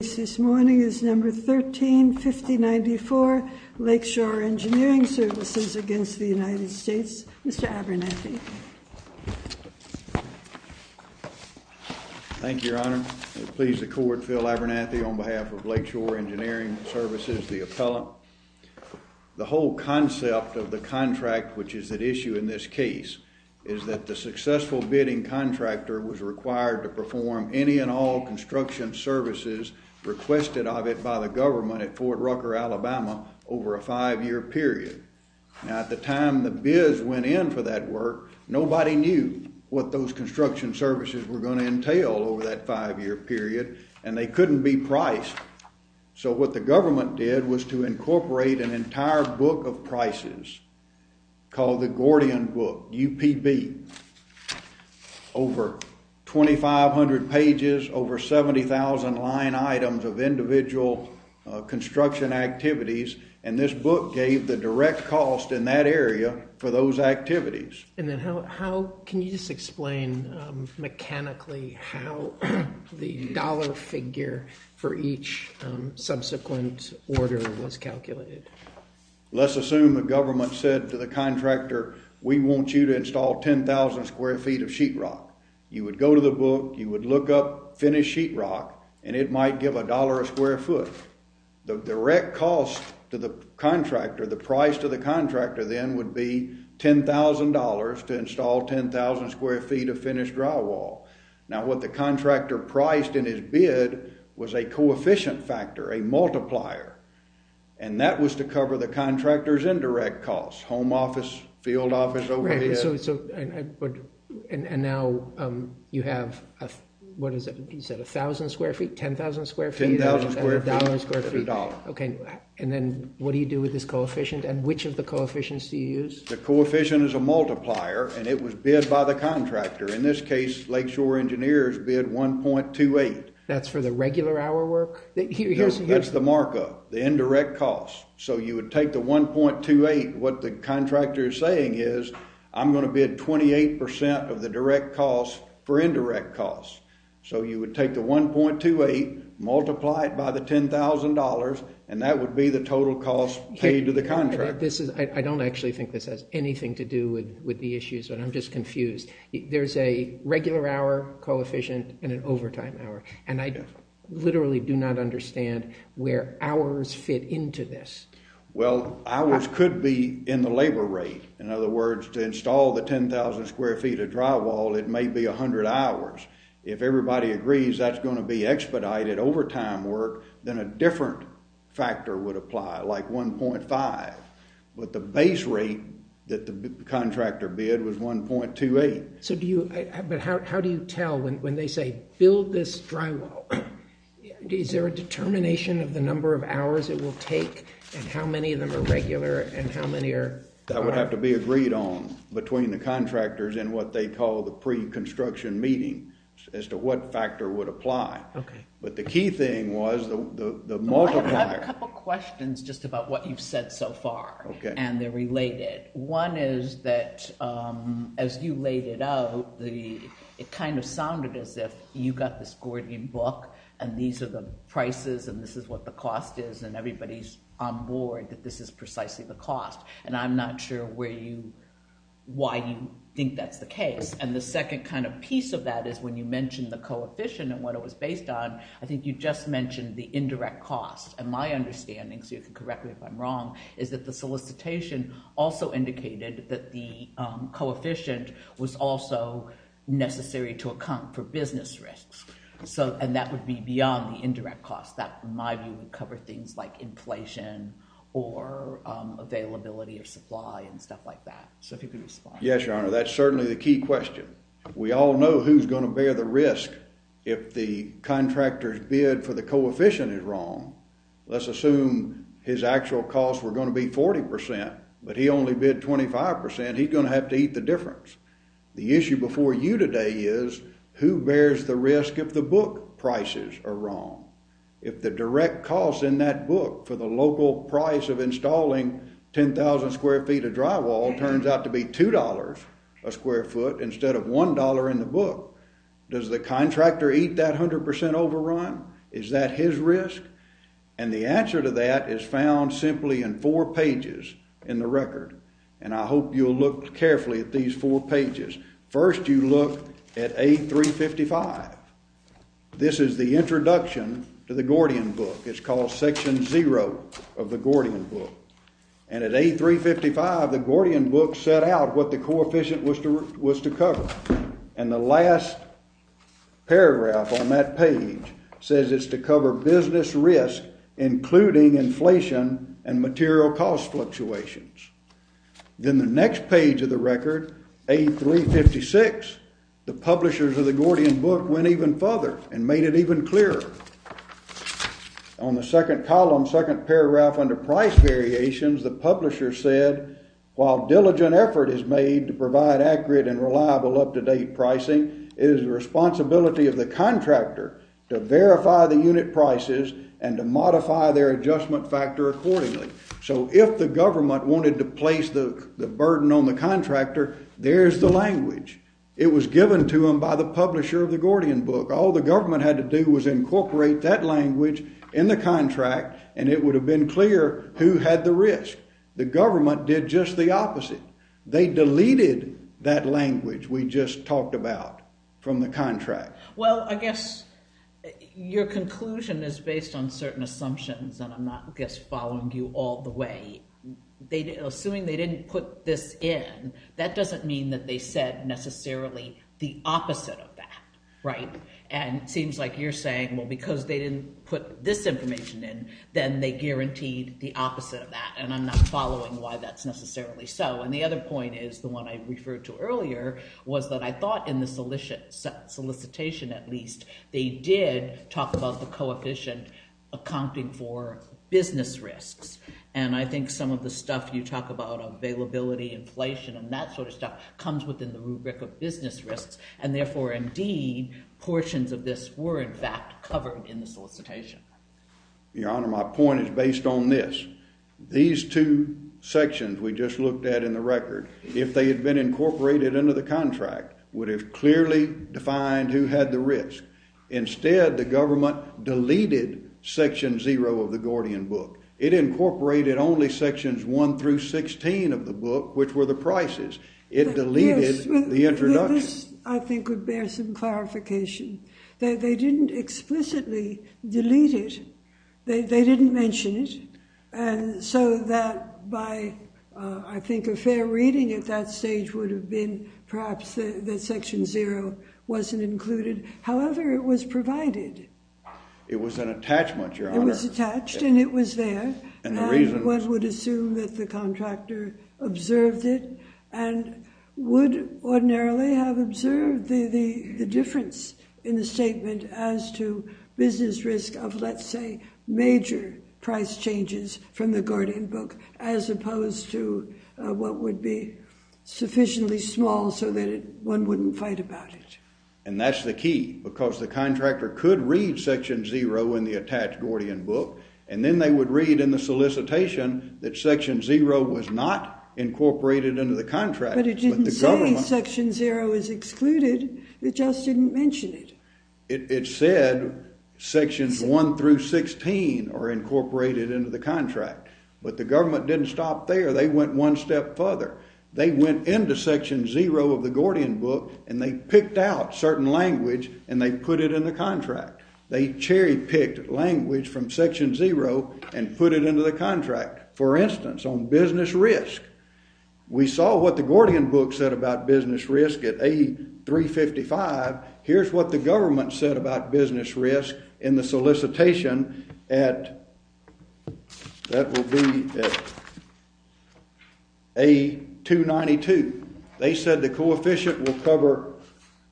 This morning is number 135094 Lakeshore Engineering Services against the United States. Mr. Abernathy. Thank you, your honor. Please the court, Phil Abernathy on behalf of Lakeshore Engineering Services, the appellant. The whole concept of the contract which is at issue in this case is that the successful bidding contractor was required to perform any and all construction services requested of it by the government at Fort Rucker, Alabama over a five-year period. Now at the time the bids went in for that work, nobody knew what those construction services were going to entail over that five-year period and they couldn't be priced. So what the government did was to incorporate an entire book of prices called the Gordian book, UPB, over 2,500 pages, over 70,000 line items of individual construction activities and this book gave the direct cost in that area for those activities. And then how can you just explain mechanically how the dollar figure for each subsequent order was calculated? Let's assume the government said to the contractor, we want you to install 10,000 square feet of sheetrock. You would go to the book, you would look up finished sheetrock and it might give a dollar a square foot. The direct cost to the contractor, the price to the contractor then would be $10,000 to install 10,000 square feet of finished drywall. Now what the contractor priced in his bid was a coefficient factor, a multiplier, and that was to cover the contractor's indirect costs, home office, field office overhead. And now you have, what is it, you said 1,000 square feet, 10,000 square feet? $10,000 square feet. Okay, and then what do you do with this coefficient and which of the coefficients do you use? The coefficient is a multiplier and it was by the contractor. In this case, Lakeshore Engineers bid 1.28. That's for the regular hour work? That's the markup, the indirect costs. So you would take the 1.28, what the contractor is saying is, I'm going to bid 28 percent of the direct costs for indirect costs. So you would take the 1.28, multiply it by the $10,000 and that would be the total cost paid to the contractor. This is, I don't actually think this has anything to do with the issues, but I'm just confused. There's a regular hour coefficient and an overtime hour, and I literally do not understand where hours fit into this. Well, hours could be in the labor rate. In other words, to install the 10,000 square feet of drywall, it may be 100 hours. If everybody agrees that's going to be expedited overtime work, then a different factor would apply, like 1.5. But the base rate that the contractor bid was 1.28. So do you, but how do you tell when they say build this drywall? Is there a determination of the number of hours it will take and how many of them are regular and how many are? That would have to be agreed on between the contractors and what they call the pre-construction meeting as to what factor would apply. Okay. But the key thing was the multiplier. I have a couple questions just about what you've said so far. Okay. And they're related. One is that as you laid it out, it kind of sounded as if you got this Gordian book and these are the prices and this is what the cost is and everybody's on board that this is precisely the cost. And I'm not sure why you think that's the case. And the second kind of piece of that is when you mentioned the coefficient and what it was based on, I think you just mentioned the indirect cost. And my understanding, so you can correct me if I'm wrong, is that the solicitation also indicated that the coefficient was also necessary to account for business risks. So, and that would be beyond the indirect cost. That, in my view, would cover things like inflation or availability or supply and stuff like that. So if you could respond. Yes, Your Honor. That's certainly the key question. We all know who's going to bear the risk if the contractor's bid for the coefficient is wrong. Let's assume his actual costs were going to be 40 percent, but he only bid 25 percent. He's going to have to eat the difference. The issue before you today is who bears the risk if the book prices are wrong. If the direct cost in that book for the local price of installing 10,000 square feet of drywall turns out to be two dollars a square foot instead of one dollar in the book, does the contractor eat that 100 percent overrun? Is that his risk? And the answer to that is found simply in four pages in the record. And I hope you'll look carefully at these four pages. First, you look at A355. This is the introduction to the Gordian book. It's called Section 0 of the Gordian book. And at A355, the Gordian book set out what the coefficient was to cover. And the last paragraph on that page says it's to cover business risk, including inflation and material cost fluctuations. Then the next page of the record, A356, the publishers of the column second paragraph under price variations, the publisher said, while diligent effort is made to provide accurate and reliable up-to-date pricing, it is the responsibility of the contractor to verify the unit prices and to modify their adjustment factor accordingly. So if the government wanted to place the burden on the contractor, there's the language. It was given to them by the publisher of the Gordian book. All the government had to do was incorporate that into the contract, and it would have been clear who had the risk. The government did just the opposite. They deleted that language we just talked about from the contract. Well, I guess your conclusion is based on certain assumptions, and I'm not just following you all the way. Assuming they didn't put this in, that doesn't mean that they said necessarily the opposite of that, right? And it seems like you're saying, well, because they didn't put this information in, then they guaranteed the opposite of that, and I'm not following why that's necessarily so. And the other point is, the one I referred to earlier, was that I thought in the solicitation, at least, they did talk about the coefficient accounting for business risks, and I think some of the stuff you talk about, availability, inflation, and that sort of stuff, comes within the rubric of business risks, and therefore, indeed, portions of this were, in fact, covered in the solicitation. Your Honor, my point is based on this. These two sections we just looked at in the record, if they had been incorporated into the contract, would have clearly defined who had the risk. Instead, the government deleted section zero of the Gordian book. It incorporated only sections one through sixteen of the book, which were the prices. It deleted the introduction. This, I think, would bear some clarification. They didn't explicitly delete it. They didn't mention it, and so that, by, I think, a fair reading at that stage, would have been, perhaps, that section zero wasn't included. However, it was provided. It was an attachment, Your Honor. It was attached, and it was there, and one would assume that the contractor observed it, and would ordinarily have observed the difference in the statement as to business risk of, let's say, major price changes from the Gordian book, as opposed to what would be sufficiently small so that one wouldn't fight about it. And that's the key, because the contractor could read section zero in the attached Gordian book, and then they would read in the solicitation that section zero was not incorporated into the contract. But it didn't say section zero is excluded. It just didn't mention it. It said sections one through sixteen are incorporated into the contract, but the government didn't stop there. They went one step further. They went into section zero of the Gordian book, and they picked out certain language, and they put it in the contract. They cherry-picked language from section zero and put it into the contract. For instance, on business risk, we saw what the Gordian book said about business risk at A-355. Here's what the government said about business risk in the solicitation at, that will be at A-292. They said the coefficient will cover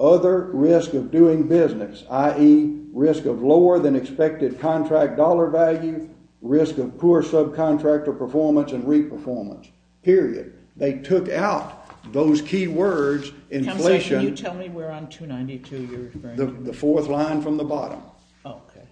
other risk of doing business, i.e., risk of lower than expected contract dollar value, risk of poor subcontractor performance and re-performance, period. They took out those key words, inflation. Can you tell me where on 292 you're referring to? The fourth line from the bottom. Okay.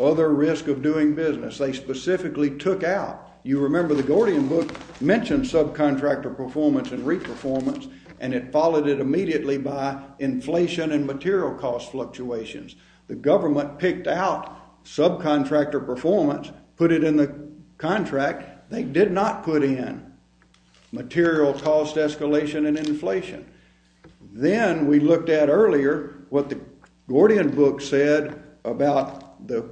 Other risk of doing business. They specifically took out, you remember, the Gordian book mentioned subcontractor performance and re-performance, and it immediately by inflation and material cost fluctuations. The government picked out subcontractor performance, put it in the contract. They did not put in material cost escalation and inflation. Then we looked at earlier what the Gordian book said about the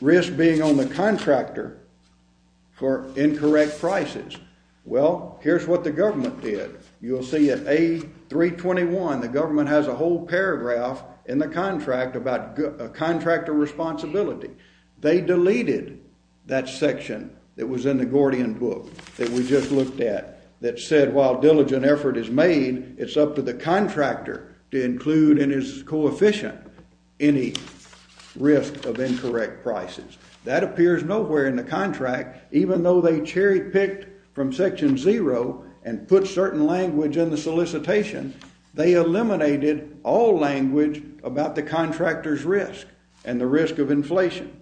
risk being on the 321. The government has a whole paragraph in the contract about contractor responsibility. They deleted that section that was in the Gordian book that we just looked at that said, while diligent effort is made, it's up to the contractor to include in his coefficient any risk of incorrect prices. That appears nowhere in the contract, even though they cherry-picked from section zero and put certain language in the solicitation, they eliminated all language about the contractor's risk and the risk of inflation.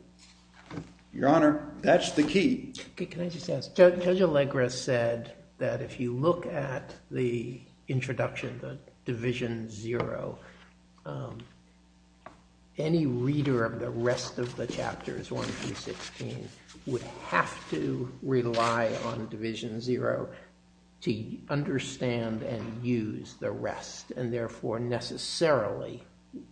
Your Honor, that's the key. Okay. Can I just ask, Judge Allegra said that if you look at the introduction, the division zero, any reader of the rest of the chapters 1 through 16 would have to rely on division zero to understand and use the rest, and therefore necessarily,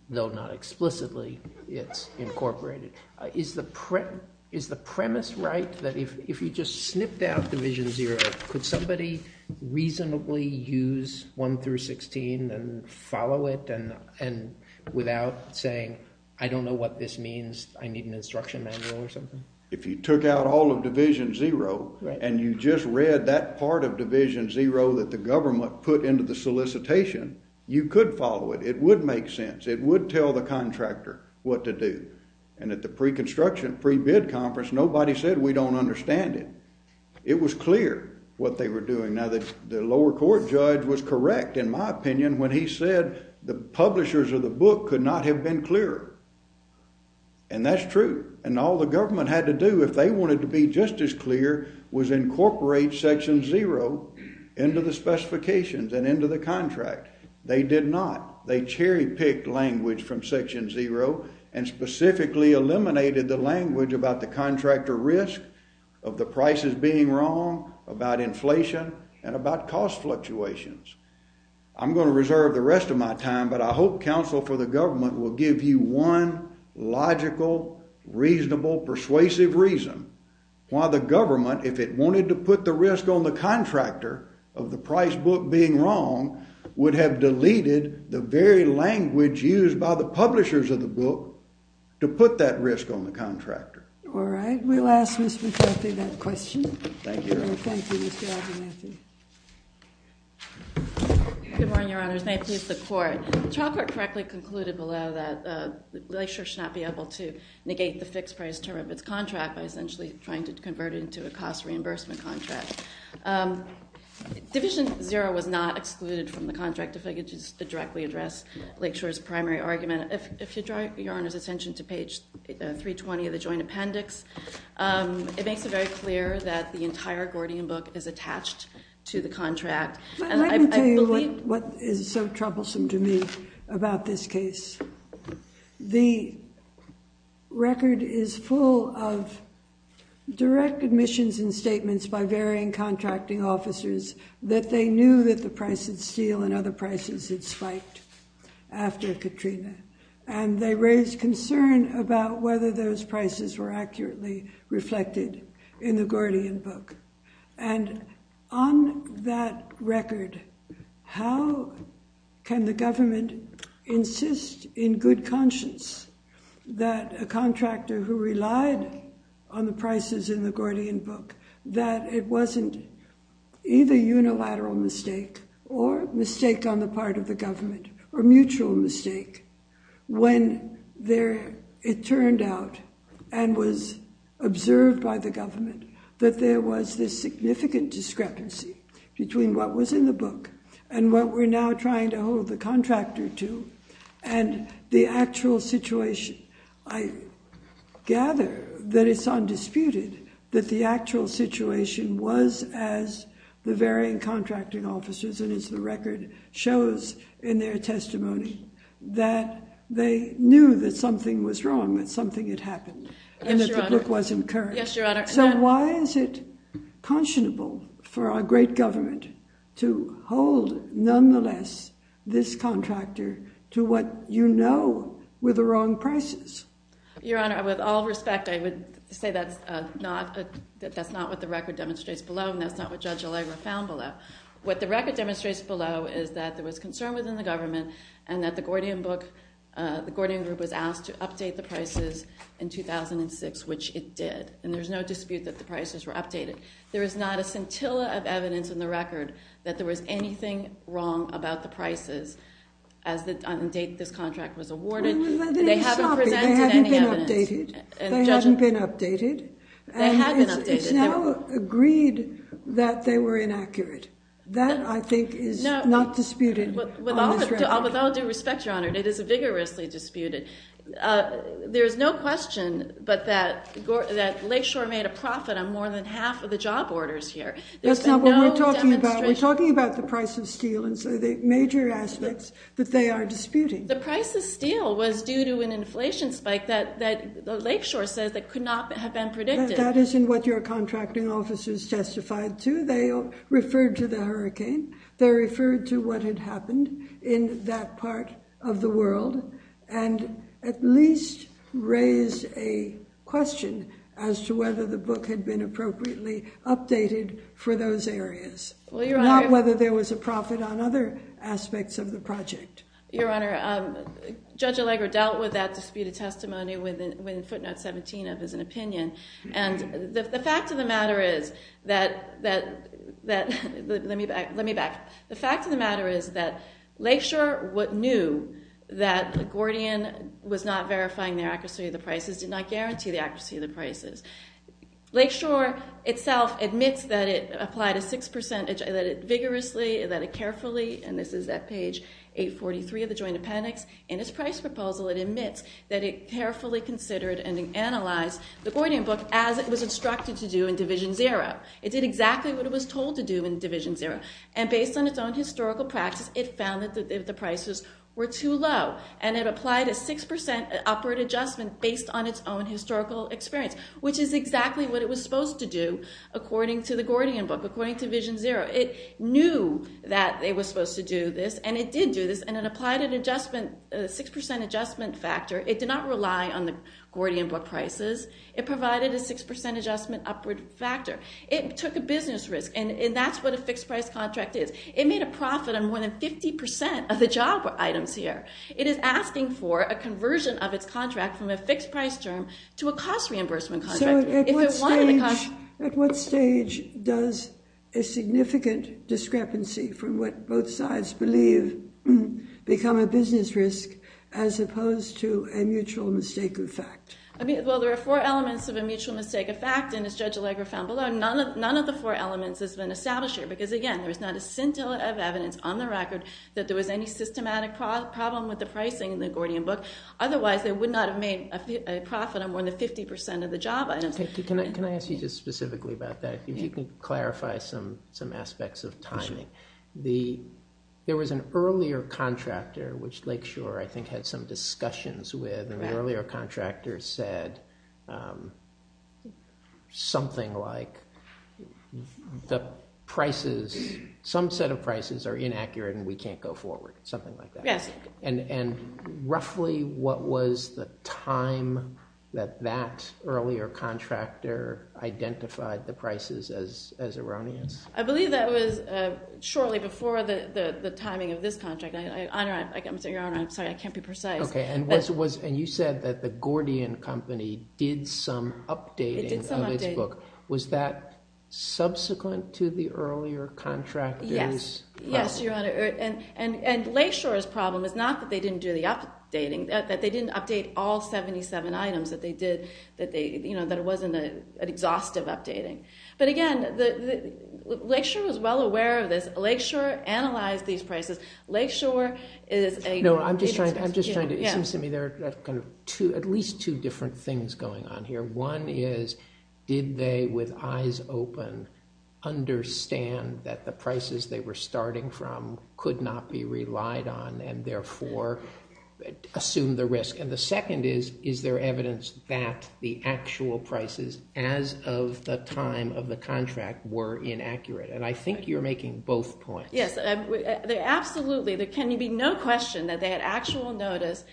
though not explicitly, it's incorporated. Is the premise right that if you just snipped out division zero, could somebody reasonably use 1 through 16 and follow it without saying, I don't know what this means, I need an instruction manual or something? If you took out all of division zero and you just read that part of division zero that the government put into the solicitation, you could follow it. It would make sense. It would tell the contractor what to do. And at the pre-construction, pre-bid conference, nobody said we don't understand it. It was clear what they were doing. Now, the lower court judge was correct, in my opinion, when he said the publishers of the book could not have been clearer. And that's true. And all the government had to do if they wanted to be just as clear was incorporate section zero into the specifications and into the contract. They did not. They cherry-picked language from section zero and specifically eliminated the language about the contractor risk of the prices being wrong, about inflation, and about cost fluctuations. I'm going to reserve the rest of my time, but I hope counsel for the government will give you one logical, reasonable, persuasive reason why the government, if it wanted to put the risk on the contractor of the price book being wrong, would have deleted the very language used by the publishers of the book to put that risk on the contractor. All right. We'll ask Ms. McCarthy that question. Thank you, Your Honor. Thank you, Mr. Abernathy. Good morning, Your Honors. May it please the Court. The trial court correctly concluded below that Lakeshore should not be able to negate the fixed price term of its contract by essentially trying to convert it into a cost reimbursement contract. Division zero was not excluded from the contract, if I could just directly address Lakeshore's primary argument. If you draw Your Honor's attention to page 320 of the joint appendix, it makes it very clear that the entire Gordian book is attached to the contract. Let me tell you what is so troublesome to me about this direct admissions and statements by varying contracting officers that they knew that the price of steel and other prices had spiked after Katrina, and they raised concern about whether those prices were accurately reflected in the Gordian book. And on that record, how can the Gordian book that it wasn't either unilateral mistake or mistake on the part of the government or mutual mistake when it turned out and was observed by the government that there was this significant discrepancy between what was in the book and what we're now trying to hold the the actual situation was as the varying contracting officers and as the record shows in their testimony that they knew that something was wrong, that something had happened and that the book wasn't correct. So why is it conscionable for our great government to hold nonetheless this contractor to what you know were the wrong prices? Your Honor, with all respect, I would say that's not what the record demonstrates below and that's not what Judge Allegra found below. What the record demonstrates below is that there was concern within the government and that the Gordian book, the Gordian group was asked to update the prices in 2006, which it did, and there's no dispute that the prices were updated. There is not a scintilla of evidence in the record that there was anything wrong about the prices as the date this contract was awarded. They hadn't been updated. They had been updated. It's now agreed that they were inaccurate. That, I think, is not disputed. With all due respect, Your Honor, it is vigorously disputed. There's no question but that Lakeshore made a profit on more than half of the job orders here. That's not what we're talking about. We're talking about the price of steel and so the major aspects they are disputing. The price of steel was due to an inflation spike that Lakeshore says that could not have been predicted. That isn't what your contracting officers testified to. They referred to the hurricane. They referred to what had happened in that part of the world and at least raised a question as to whether the book had been appropriately updated for those areas, not whether there was a profit on other aspects of the project. Your Honor, Judge Allegra dealt with that disputed testimony within footnote 17 of his opinion. The fact of the matter is that Lakeshore knew that Gordian was not verifying the accuracy of the prices, did not guarantee the accuracy of the prices. Lakeshore itself admits that it applied a 6%, that it vigorously, that it carefully, and this is at page 843 of the Joint Appendix, in its price proposal it admits that it carefully considered and analyzed the Gordian book as it was instructed to do in Division Zero. It did exactly what it was told to do in Division Zero and based on its own historical practice, it found that the prices were too low and it applied a 6% upward adjustment based on its own historical experience, which is exactly what it was supposed to do according to the Gordian book, according to Division Zero. It knew that it was supposed to do this and it did do this and it applied an adjustment, a 6% adjustment factor. It did not rely on the Gordian book prices. It provided a 6% adjustment upward factor. It took a business risk and that's what a fixed price contract is. It made a profit on more than 50% of the job items here. It is asking for a conversion of its contract from a fixed price term to a cost reimbursement contract. So at what stage does a significant discrepancy from what both sides believe become a business risk as opposed to a mutual mistake of fact? I mean, well, there are four elements of a mutual mistake of fact and as Judge Allegra found below, none of the four elements has been established here because, again, there is not a scintilla of evidence on the record that there was any systematic problem with the pricing in the Gordian book. Otherwise, they would not have made a profit on more than 50% of the job items. Can I ask you just specifically about that? If you can clarify some aspects of timing. There was an earlier contractor, which Lake Shore I think had some discussions with, and the earlier contractor said something like, the prices, some set of prices are inaccurate and we can't go forward, something like that. And roughly what was the time that that earlier contractor identified the prices as erroneous? I believe that was shortly before the timing of this contract. I'm sorry, Your Honor, I can't be precise. Okay, and you said that the Gordian company did some updating of its book. Was that subsequent to the earlier contractor's? Yes, Your Honor, and Lake Shore's problem is not that they didn't do the updating, that they didn't update all 77 items that they did, that it wasn't an exhaustive updating. But again, Lake Shore was well aware of this. Lake Shore analyzed these prices. No, I'm just trying to, it seems to me there are at least two different things going on here. One is, did they with eyes open understand that the prices they were starting from could not be relied on and therefore assume the risk? And the second is, is there evidence that the actual prices as of the time of the contract were inaccurate? And I think you're making both points. Yes, absolutely. There can be no question that they had actual notice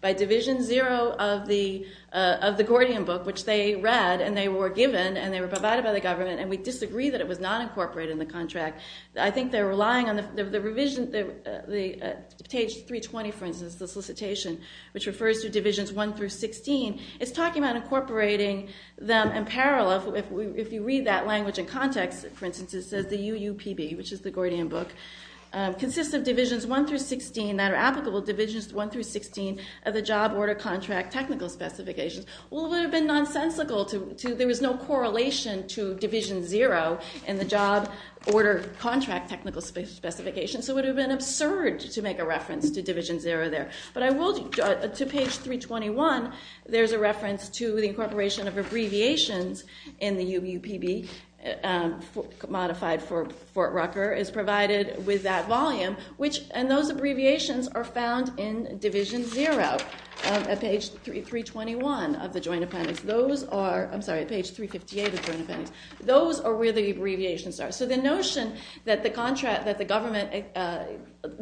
by Division Zero of the contracts they read, and they were given, and they were provided by the government, and we disagree that it was not incorporated in the contract. I think they're relying on the revision, page 320, for instance, the solicitation, which refers to Divisions 1 through 16. It's talking about incorporating them in parallel. If you read that language in context, for instance, it says the UUPB, which is the Gordian book, consists of Divisions 1 through 16 that are applicable Divisions 1 through 16 of the job order contract technical specifications. Well, it would have been nonsensical to, there was no correlation to Division Zero in the job order contract technical specifications, so it would have been absurd to make a reference to Division Zero there. But I will, to page 321, there's a reference to the incorporation of abbreviations in the UUPB modified for Fort Rucker is provided with that volume, which, and those abbreviations are found in Division Zero at page 321 of the Joint Appendix. Those are, I'm sorry, page 358 of the Joint Appendix. Those are where the abbreviations are. So the notion that the government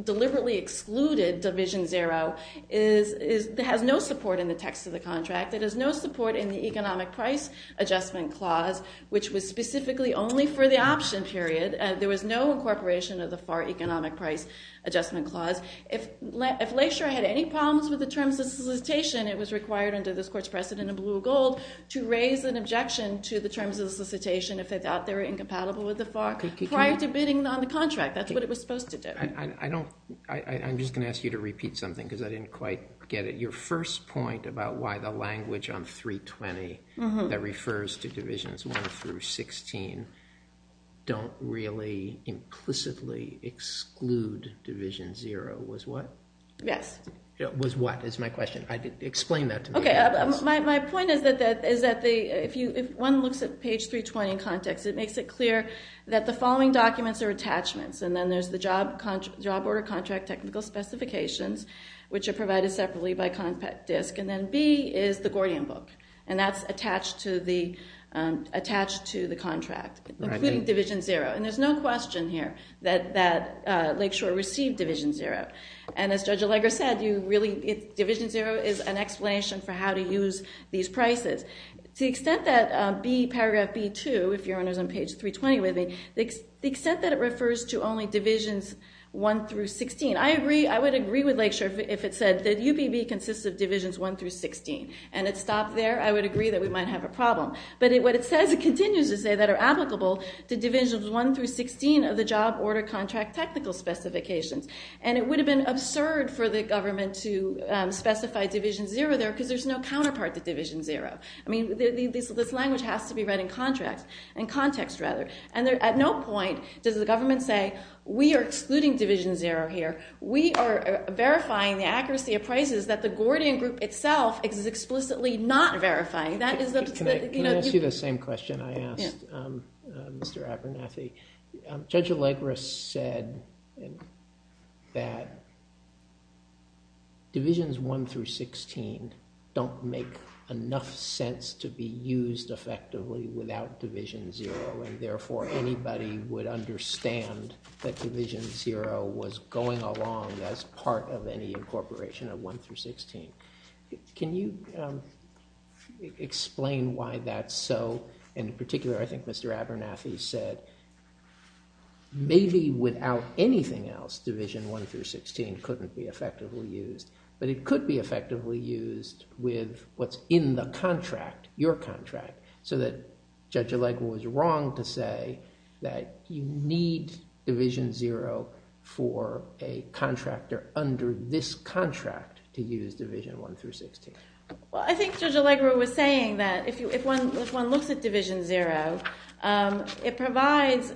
deliberately excluded Division Zero has no support in the text of the contract. It has no support in the economic price adjustment clause, which was specifically only for the option period. There was no incorporation of the FAR economic price adjustment clause. If Lakeshore had any problems with the terms of solicitation, it was required under this court's precedent in blue or gold to raise an objection to the terms of solicitation if they thought they were incompatible with the FAR prior to bidding on the contract. That's what it was supposed to do. I don't, I'm just going to ask you to repeat something because I didn't quite get it. Your first point about why the language on 320 that refers to Divisions 1 through 16 don't really implicitly exclude Division Zero was what? Yes. Was what is my question. Explain that to me. Okay. My point is that if one looks at page 320 in context, it makes it clear that the following documents are attachments. And then there's the job order contract technical specifications, which are provided separately by Compact Disc. And then B is the Gordian book. And that's attached to the contract, including Division Zero. And there's no question here that Lakeshore received Division Zero. And as Judge Allegra said, you really, Division Zero is an explanation for how to use these prices. To the extent that B, paragraph B2, if you're on page 320 with me, the extent that it refers to only Divisions 1 through 16. I agree, I would agree with Lakeshore if it said that UPB consists of Divisions 1 through 16. And it stopped there. I would agree that we might have a problem. But what it says, it continues to say that are applicable to Divisions 1 through 16 of the job order contract technical specifications. And it would have been absurd for the government to specify Division Zero there, because there's no counterpart to Division Zero. I mean, this language has to be read in context. And at no point does the government say, we are excluding Division Zero here. We are verifying the accuracy of prices that the Gordian group itself is explicitly not verifying. Can I ask you the same question I asked Mr. Abernathy? Judge Allegra said that Divisions 1 through 16 don't make enough sense to be used effectively without Division Zero. And therefore, anybody would understand that Division Zero was going along as part of any incorporation of 1 through 16. Can you explain why that's so? In particular, I think Mr. Abernathy said, maybe without anything else, Division 1 through 16 couldn't be effectively used. But it could be effectively used with what's in the contract, your contract. So that Judge Allegra was wrong to say that you need Division Zero for a contractor under this contract to use Division 1 through 16. Well, I think Judge Allegra was saying that if one looks at Division Zero, it provides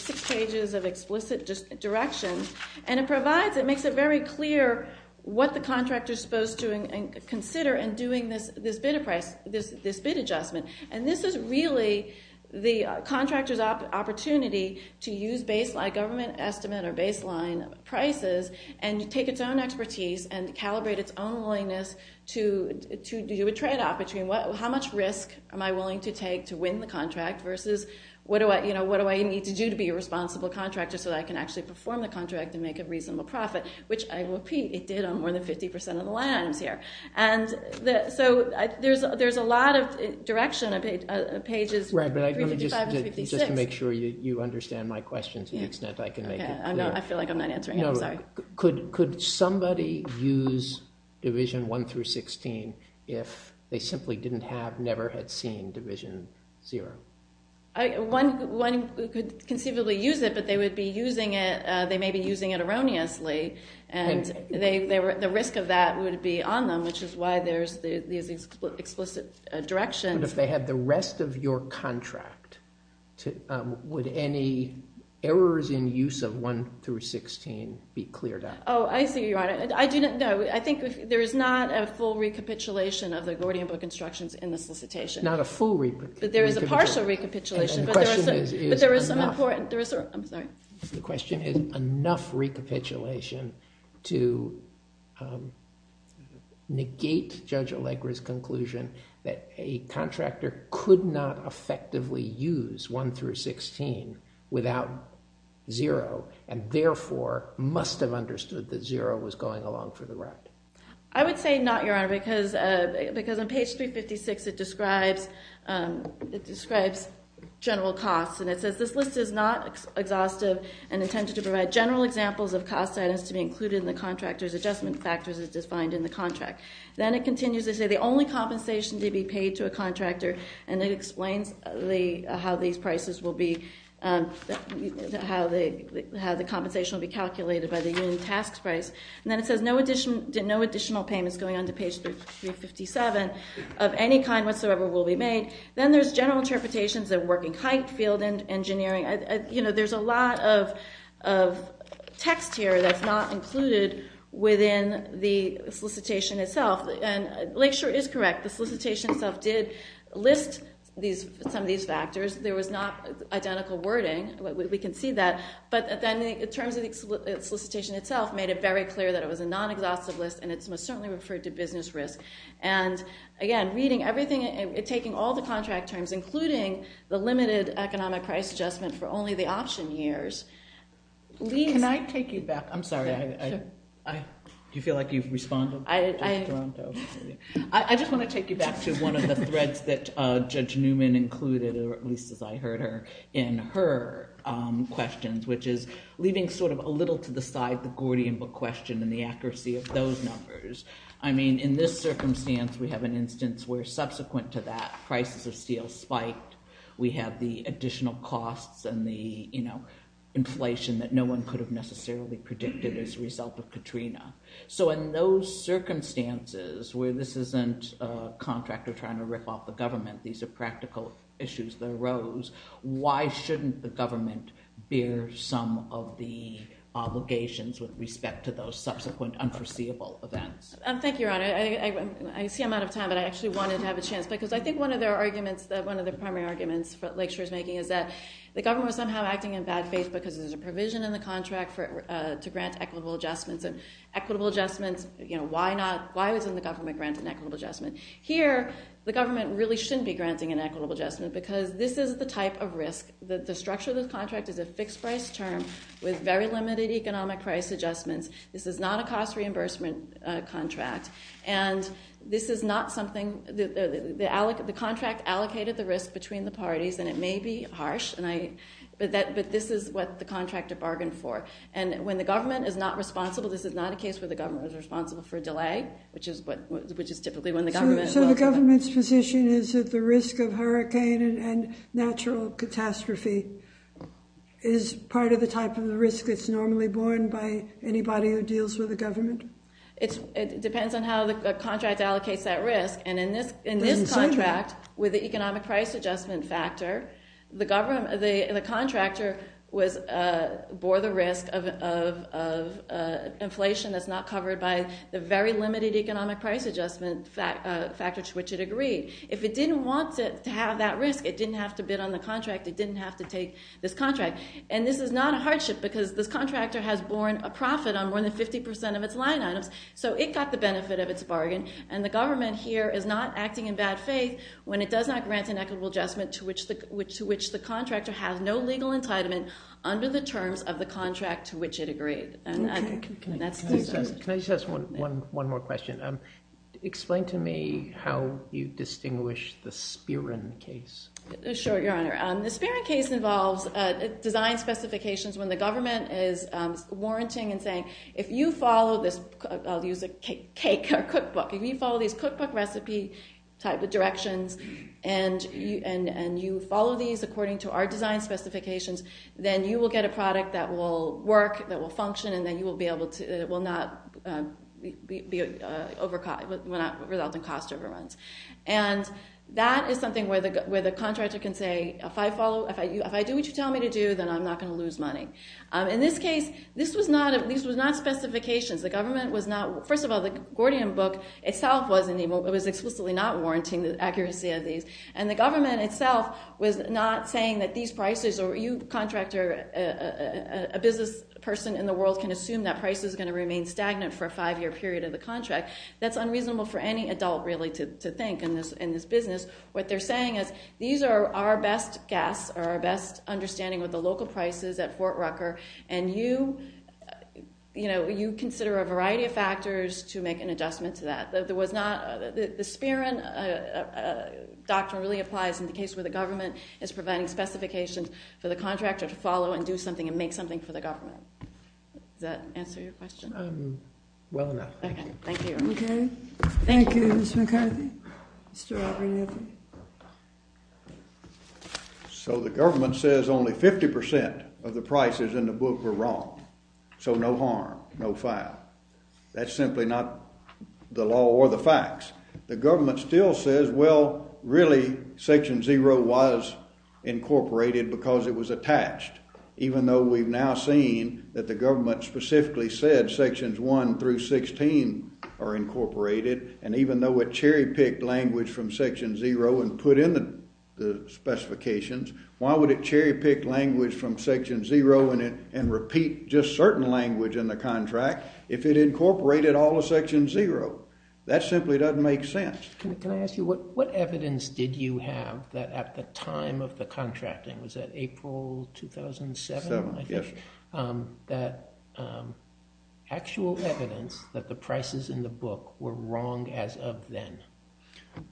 six pages of explicit directions. And it makes it very clear what the contractor is supposed to consider in doing this bid adjustment. And this is really the contractor's opportunity to use government estimate or baseline prices, and take its own expertise and calibrate its own willingness to do a tradeoff between how much risk am I willing to take to win the contract versus what do I need to do to be a responsible contractor so that I can actually perform the contract and make a reasonable profit, which I repeat, it did on more than 50% of the land I was here. And so there's a lot of direction on pages 355 and 356. Just to make sure you understand my question to the extent I can make it clear. I feel like I'm not answering it. I'm sorry. Could somebody use Division 1 through 16 if they simply never had seen Division Zero? One could conceivably use it, but they may be using it erroneously. And the risk of that would be on them, which is why there's these explicit directions. But if they had the rest of your contract, would any errors in use of 1 through 16 be cleared up? Oh, I see you, Your Honor. No, I think there is not a full recapitulation of the Gordian book instructions in the solicitation. Not a full recapitulation. But there is a partial recapitulation. And the question is enough. I'm sorry. The contractor could not effectively use 1 through 16 without Zero, and therefore must have understood that Zero was going along for the ride. I would say not, Your Honor, because on page 356 it describes general costs. And it says this list is not exhaustive and intended to provide general examples of costs that has to be included in the contractor's adjustment factors as defined in the contract. Then it continues to say the only compensation to be paid to a contractor, and it explains how the compensation will be calculated by the union task price. And then it says no additional payments going on to page 357 of any kind whatsoever will be made. Then there's general interpretations of working height, field and engineering. You know, there's a lot of text here that's not included within the solicitation itself. And Lakeshore is correct. The solicitation itself did list some of these factors. There was not identical wording. We can see that. But then the terms of the solicitation itself made it very clear that it was a non-exhaustive list, and it's most certainly referred to business risk. And, again, reading everything and taking all the contract terms, including the limited economic price adjustment for only the option years, leaves... Can I take you back? I'm sorry. Do you feel like you've responded? I just want to take you back to one of the threads that Judge Newman included, at least as I heard her, in her questions, which is leaving sort of a little to the side the Gordian book question and the accuracy of those numbers. I mean, in this circumstance, we have an instance where, subsequent to that, prices of steel spiked. We have the additional costs and the, you know, inflation that no one could have necessarily predicted as a result of Katrina. So in those circumstances where this isn't a contractor trying to rip off the government, these are practical issues that arose, why shouldn't the government bear some of the obligations with respect to those subsequent unforeseeable events? Thank you, Your Honor. I see I'm out of time, but I actually wanted to have a chance, because I think one of their arguments, one of the primary arguments that Lakeshore is making, is that the government was somehow acting in bad faith because there's a provision in the contract to grant equitable adjustments, and equitable adjustments, you know, why not? Why wouldn't the government grant an equitable adjustment? Here, the government really shouldn't be granting an equitable adjustment because this is the type of risk that the structure of the contract is a fixed price term with very limited economic price adjustments. This is not a cost reimbursement contract, and this is not something, the contract allocated the risk between the parties, and it may be harsh, but this is what the contractor bargained for. And when the government is not responsible, this is not a case where the government is responsible for a delay, which is typically when the government... So the government's position is that the risk of hurricane and natural catastrophe is part of the type of risk that's normally borne by anybody who deals with the government? It depends on how the contract allocates that risk, and in this contract, with the economic price adjustment factor, the contractor bore the risk of inflation that's not covered by the very limited economic price adjustment factor to which it agreed. If it didn't want to have that risk, it didn't have to bid on the contract, it didn't have to take this contract, and this is not a hardship because this contractor has borne a profit on more than 50% of its line items, so it got the benefit of its bargain, and the government here is not acting in bad faith when it does not grant an equitable adjustment to which the contractor has no legal entitlement under the terms of the contract to which it agreed. Can I just ask one more question? Explain to me how you distinguish the Spirin case. Sure, Your Honor. The Spirin case involves design specifications when the government is warranting and saying, if you follow this, I'll use a cake or cookbook, if you follow these cookbook recipe type of directions and you follow these according to our design specifications, then you will get a product that will work, that will function, and then it will not result in cost overruns. And that is something where the contractor can say, if I do what you tell me to do, then I'm not going to lose money. In this case, these were not specifications. First of all, the Gordian book itself was explicitly not warranting the accuracy of these, and the government itself was not saying that these prices, or you, contractor, a business person in the world, can assume that price is going to remain stagnant for a five-year period of the contract. That's unreasonable for any adult, really, to think in this business. What they're saying is these are our best guess, our best understanding of the local prices at Fort Rucker, and you consider a variety of factors to make an adjustment to that. The Spirin doctrine really applies in the case where the government is providing specifications for the contractor to follow and do something and make something for the government. Does that answer your question? Well enough. Okay, thank you. Okay, thank you, Ms. McCarthy. Mr. Aubrey, anything? So the government says only 50% of the prices in the book were wrong, so no harm, no foul. That's simply not the law or the facts. The government still says, well, really, Section 0 was incorporated because it was attached, even though we've now seen that the government specifically said Sections 1 through 16 are incorporated, and even though it cherry-picked language from Section 0 and put in the specifications, why would it cherry-pick language from Section 0 and repeat just certain language in the contract if it incorporated all of Section 0? That simply doesn't make sense. Can I ask you, what evidence did you have that at the time of the contracting, was that April 2007, I think, that actual evidence that the prices in the book were wrong as of then?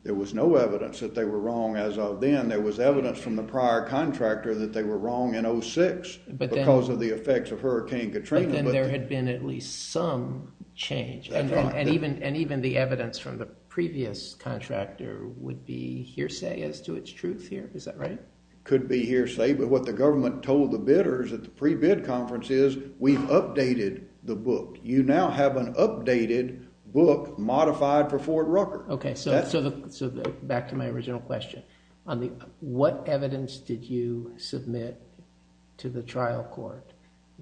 There was no evidence that they were wrong as of then. There was evidence from the prior contractor that they were wrong in 06 because of the effects of Hurricane Katrina. But then there had been at least some change, and even the evidence from the previous contractor would be hearsay as to its truth here. Is that right? Could be hearsay, but what the government told the bidders at the pre-bid conference is, we've updated the book. You now have an updated book modified for Fort Rucker. Okay, so back to my original question. What evidence did you submit to the trial court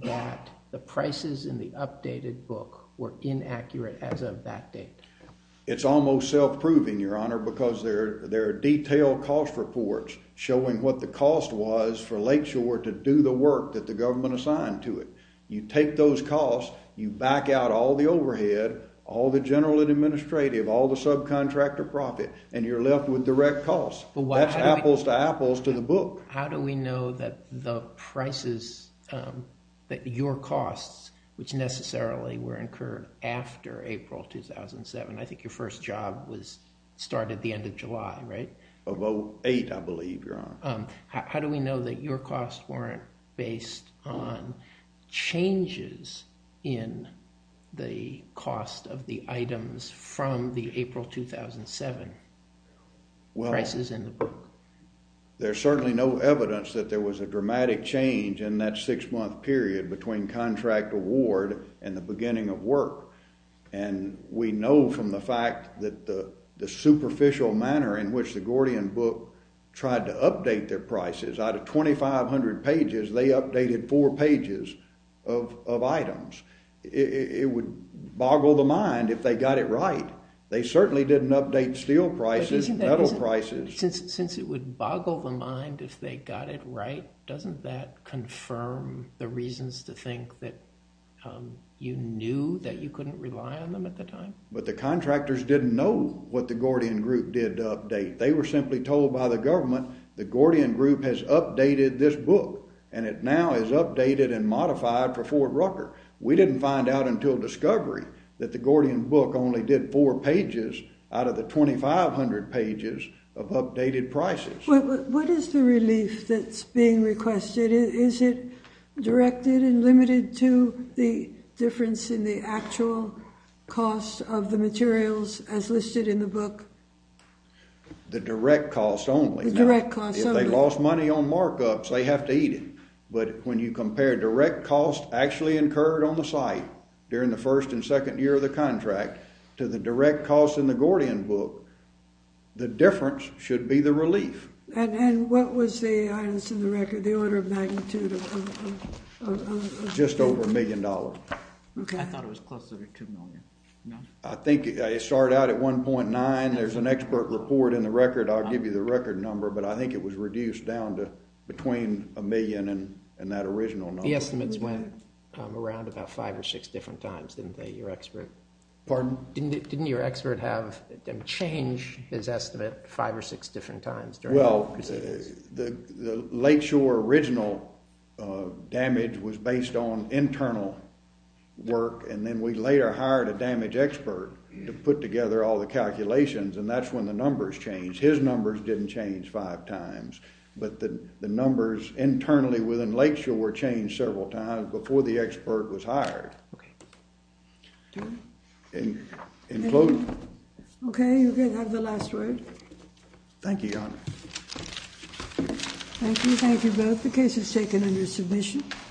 that the prices in the updated book were inaccurate as of that date? It's almost self-proving, Your Honor, because there are detailed cost reports showing what the cost was for Lakeshore to do the work that the government assigned to it. You take those costs, you back out all the overhead, all the general and administrative, all the subcontractor profit, and you're left with direct costs. That's apples to apples to the book. How do we know that the prices, that your costs, which necessarily were incurred after April 2007, I think your first job started the end of July, right? Of 08, I believe, Your Honor. How do we know that your costs weren't based on changes in the cost of the items from the April 2007 prices in the book? There's certainly no evidence that there was a dramatic change in that six-month period between contract award and the beginning of work. We know from the fact that the superficial manner in which the Gordian book tried to update their prices, out of 2,500 pages, they updated four pages of items. It would boggle the mind if they got it right. They certainly didn't update steel prices, metal prices. Since it would boggle the mind if they got it right, doesn't that confirm the reasons to think that you knew that you couldn't rely on them at the time? But the contractors didn't know what the Gordian group did to update. They were simply told by the government, the Gordian group has updated this book, and it now is updated and modified for Ford Rucker. We didn't find out until discovery that the Gordian book only did four pages out of the 2,500 pages of updated prices. What is the relief that's being requested? Is it directed and limited to the difference in the actual cost of the materials as listed in the book? The direct cost only. The direct cost only. If they lost money on markups, they have to eat it. But when you compare direct cost actually incurred on the site during the first and second year of the contract to the direct cost in the Gordian book, the difference should be the relief. And what was the item in the record, the order of magnitude? Just over a million dollars. Okay. I thought it was closer to two million. I think it started out at 1.9. There's an expert report in the record. I'll give you the record number, but I think it was reduced down to between a million and that original number. The estimates went around about five or six different times, didn't they, your expert? Pardon? Didn't your expert change his estimate five or six different times during the procedures? Well, the Lakeshore original damage was based on internal work, and then we later hired a damage expert to put together all the calculations, and that's when the numbers changed. His numbers didn't change five times, but the numbers internally within Lakeshore were changed several times before the expert was hired. Okay. Do we? And closing. Okay, you can have the last word. Thank you, Your Honor. Thank you. Thank you both. The case is taken under submission.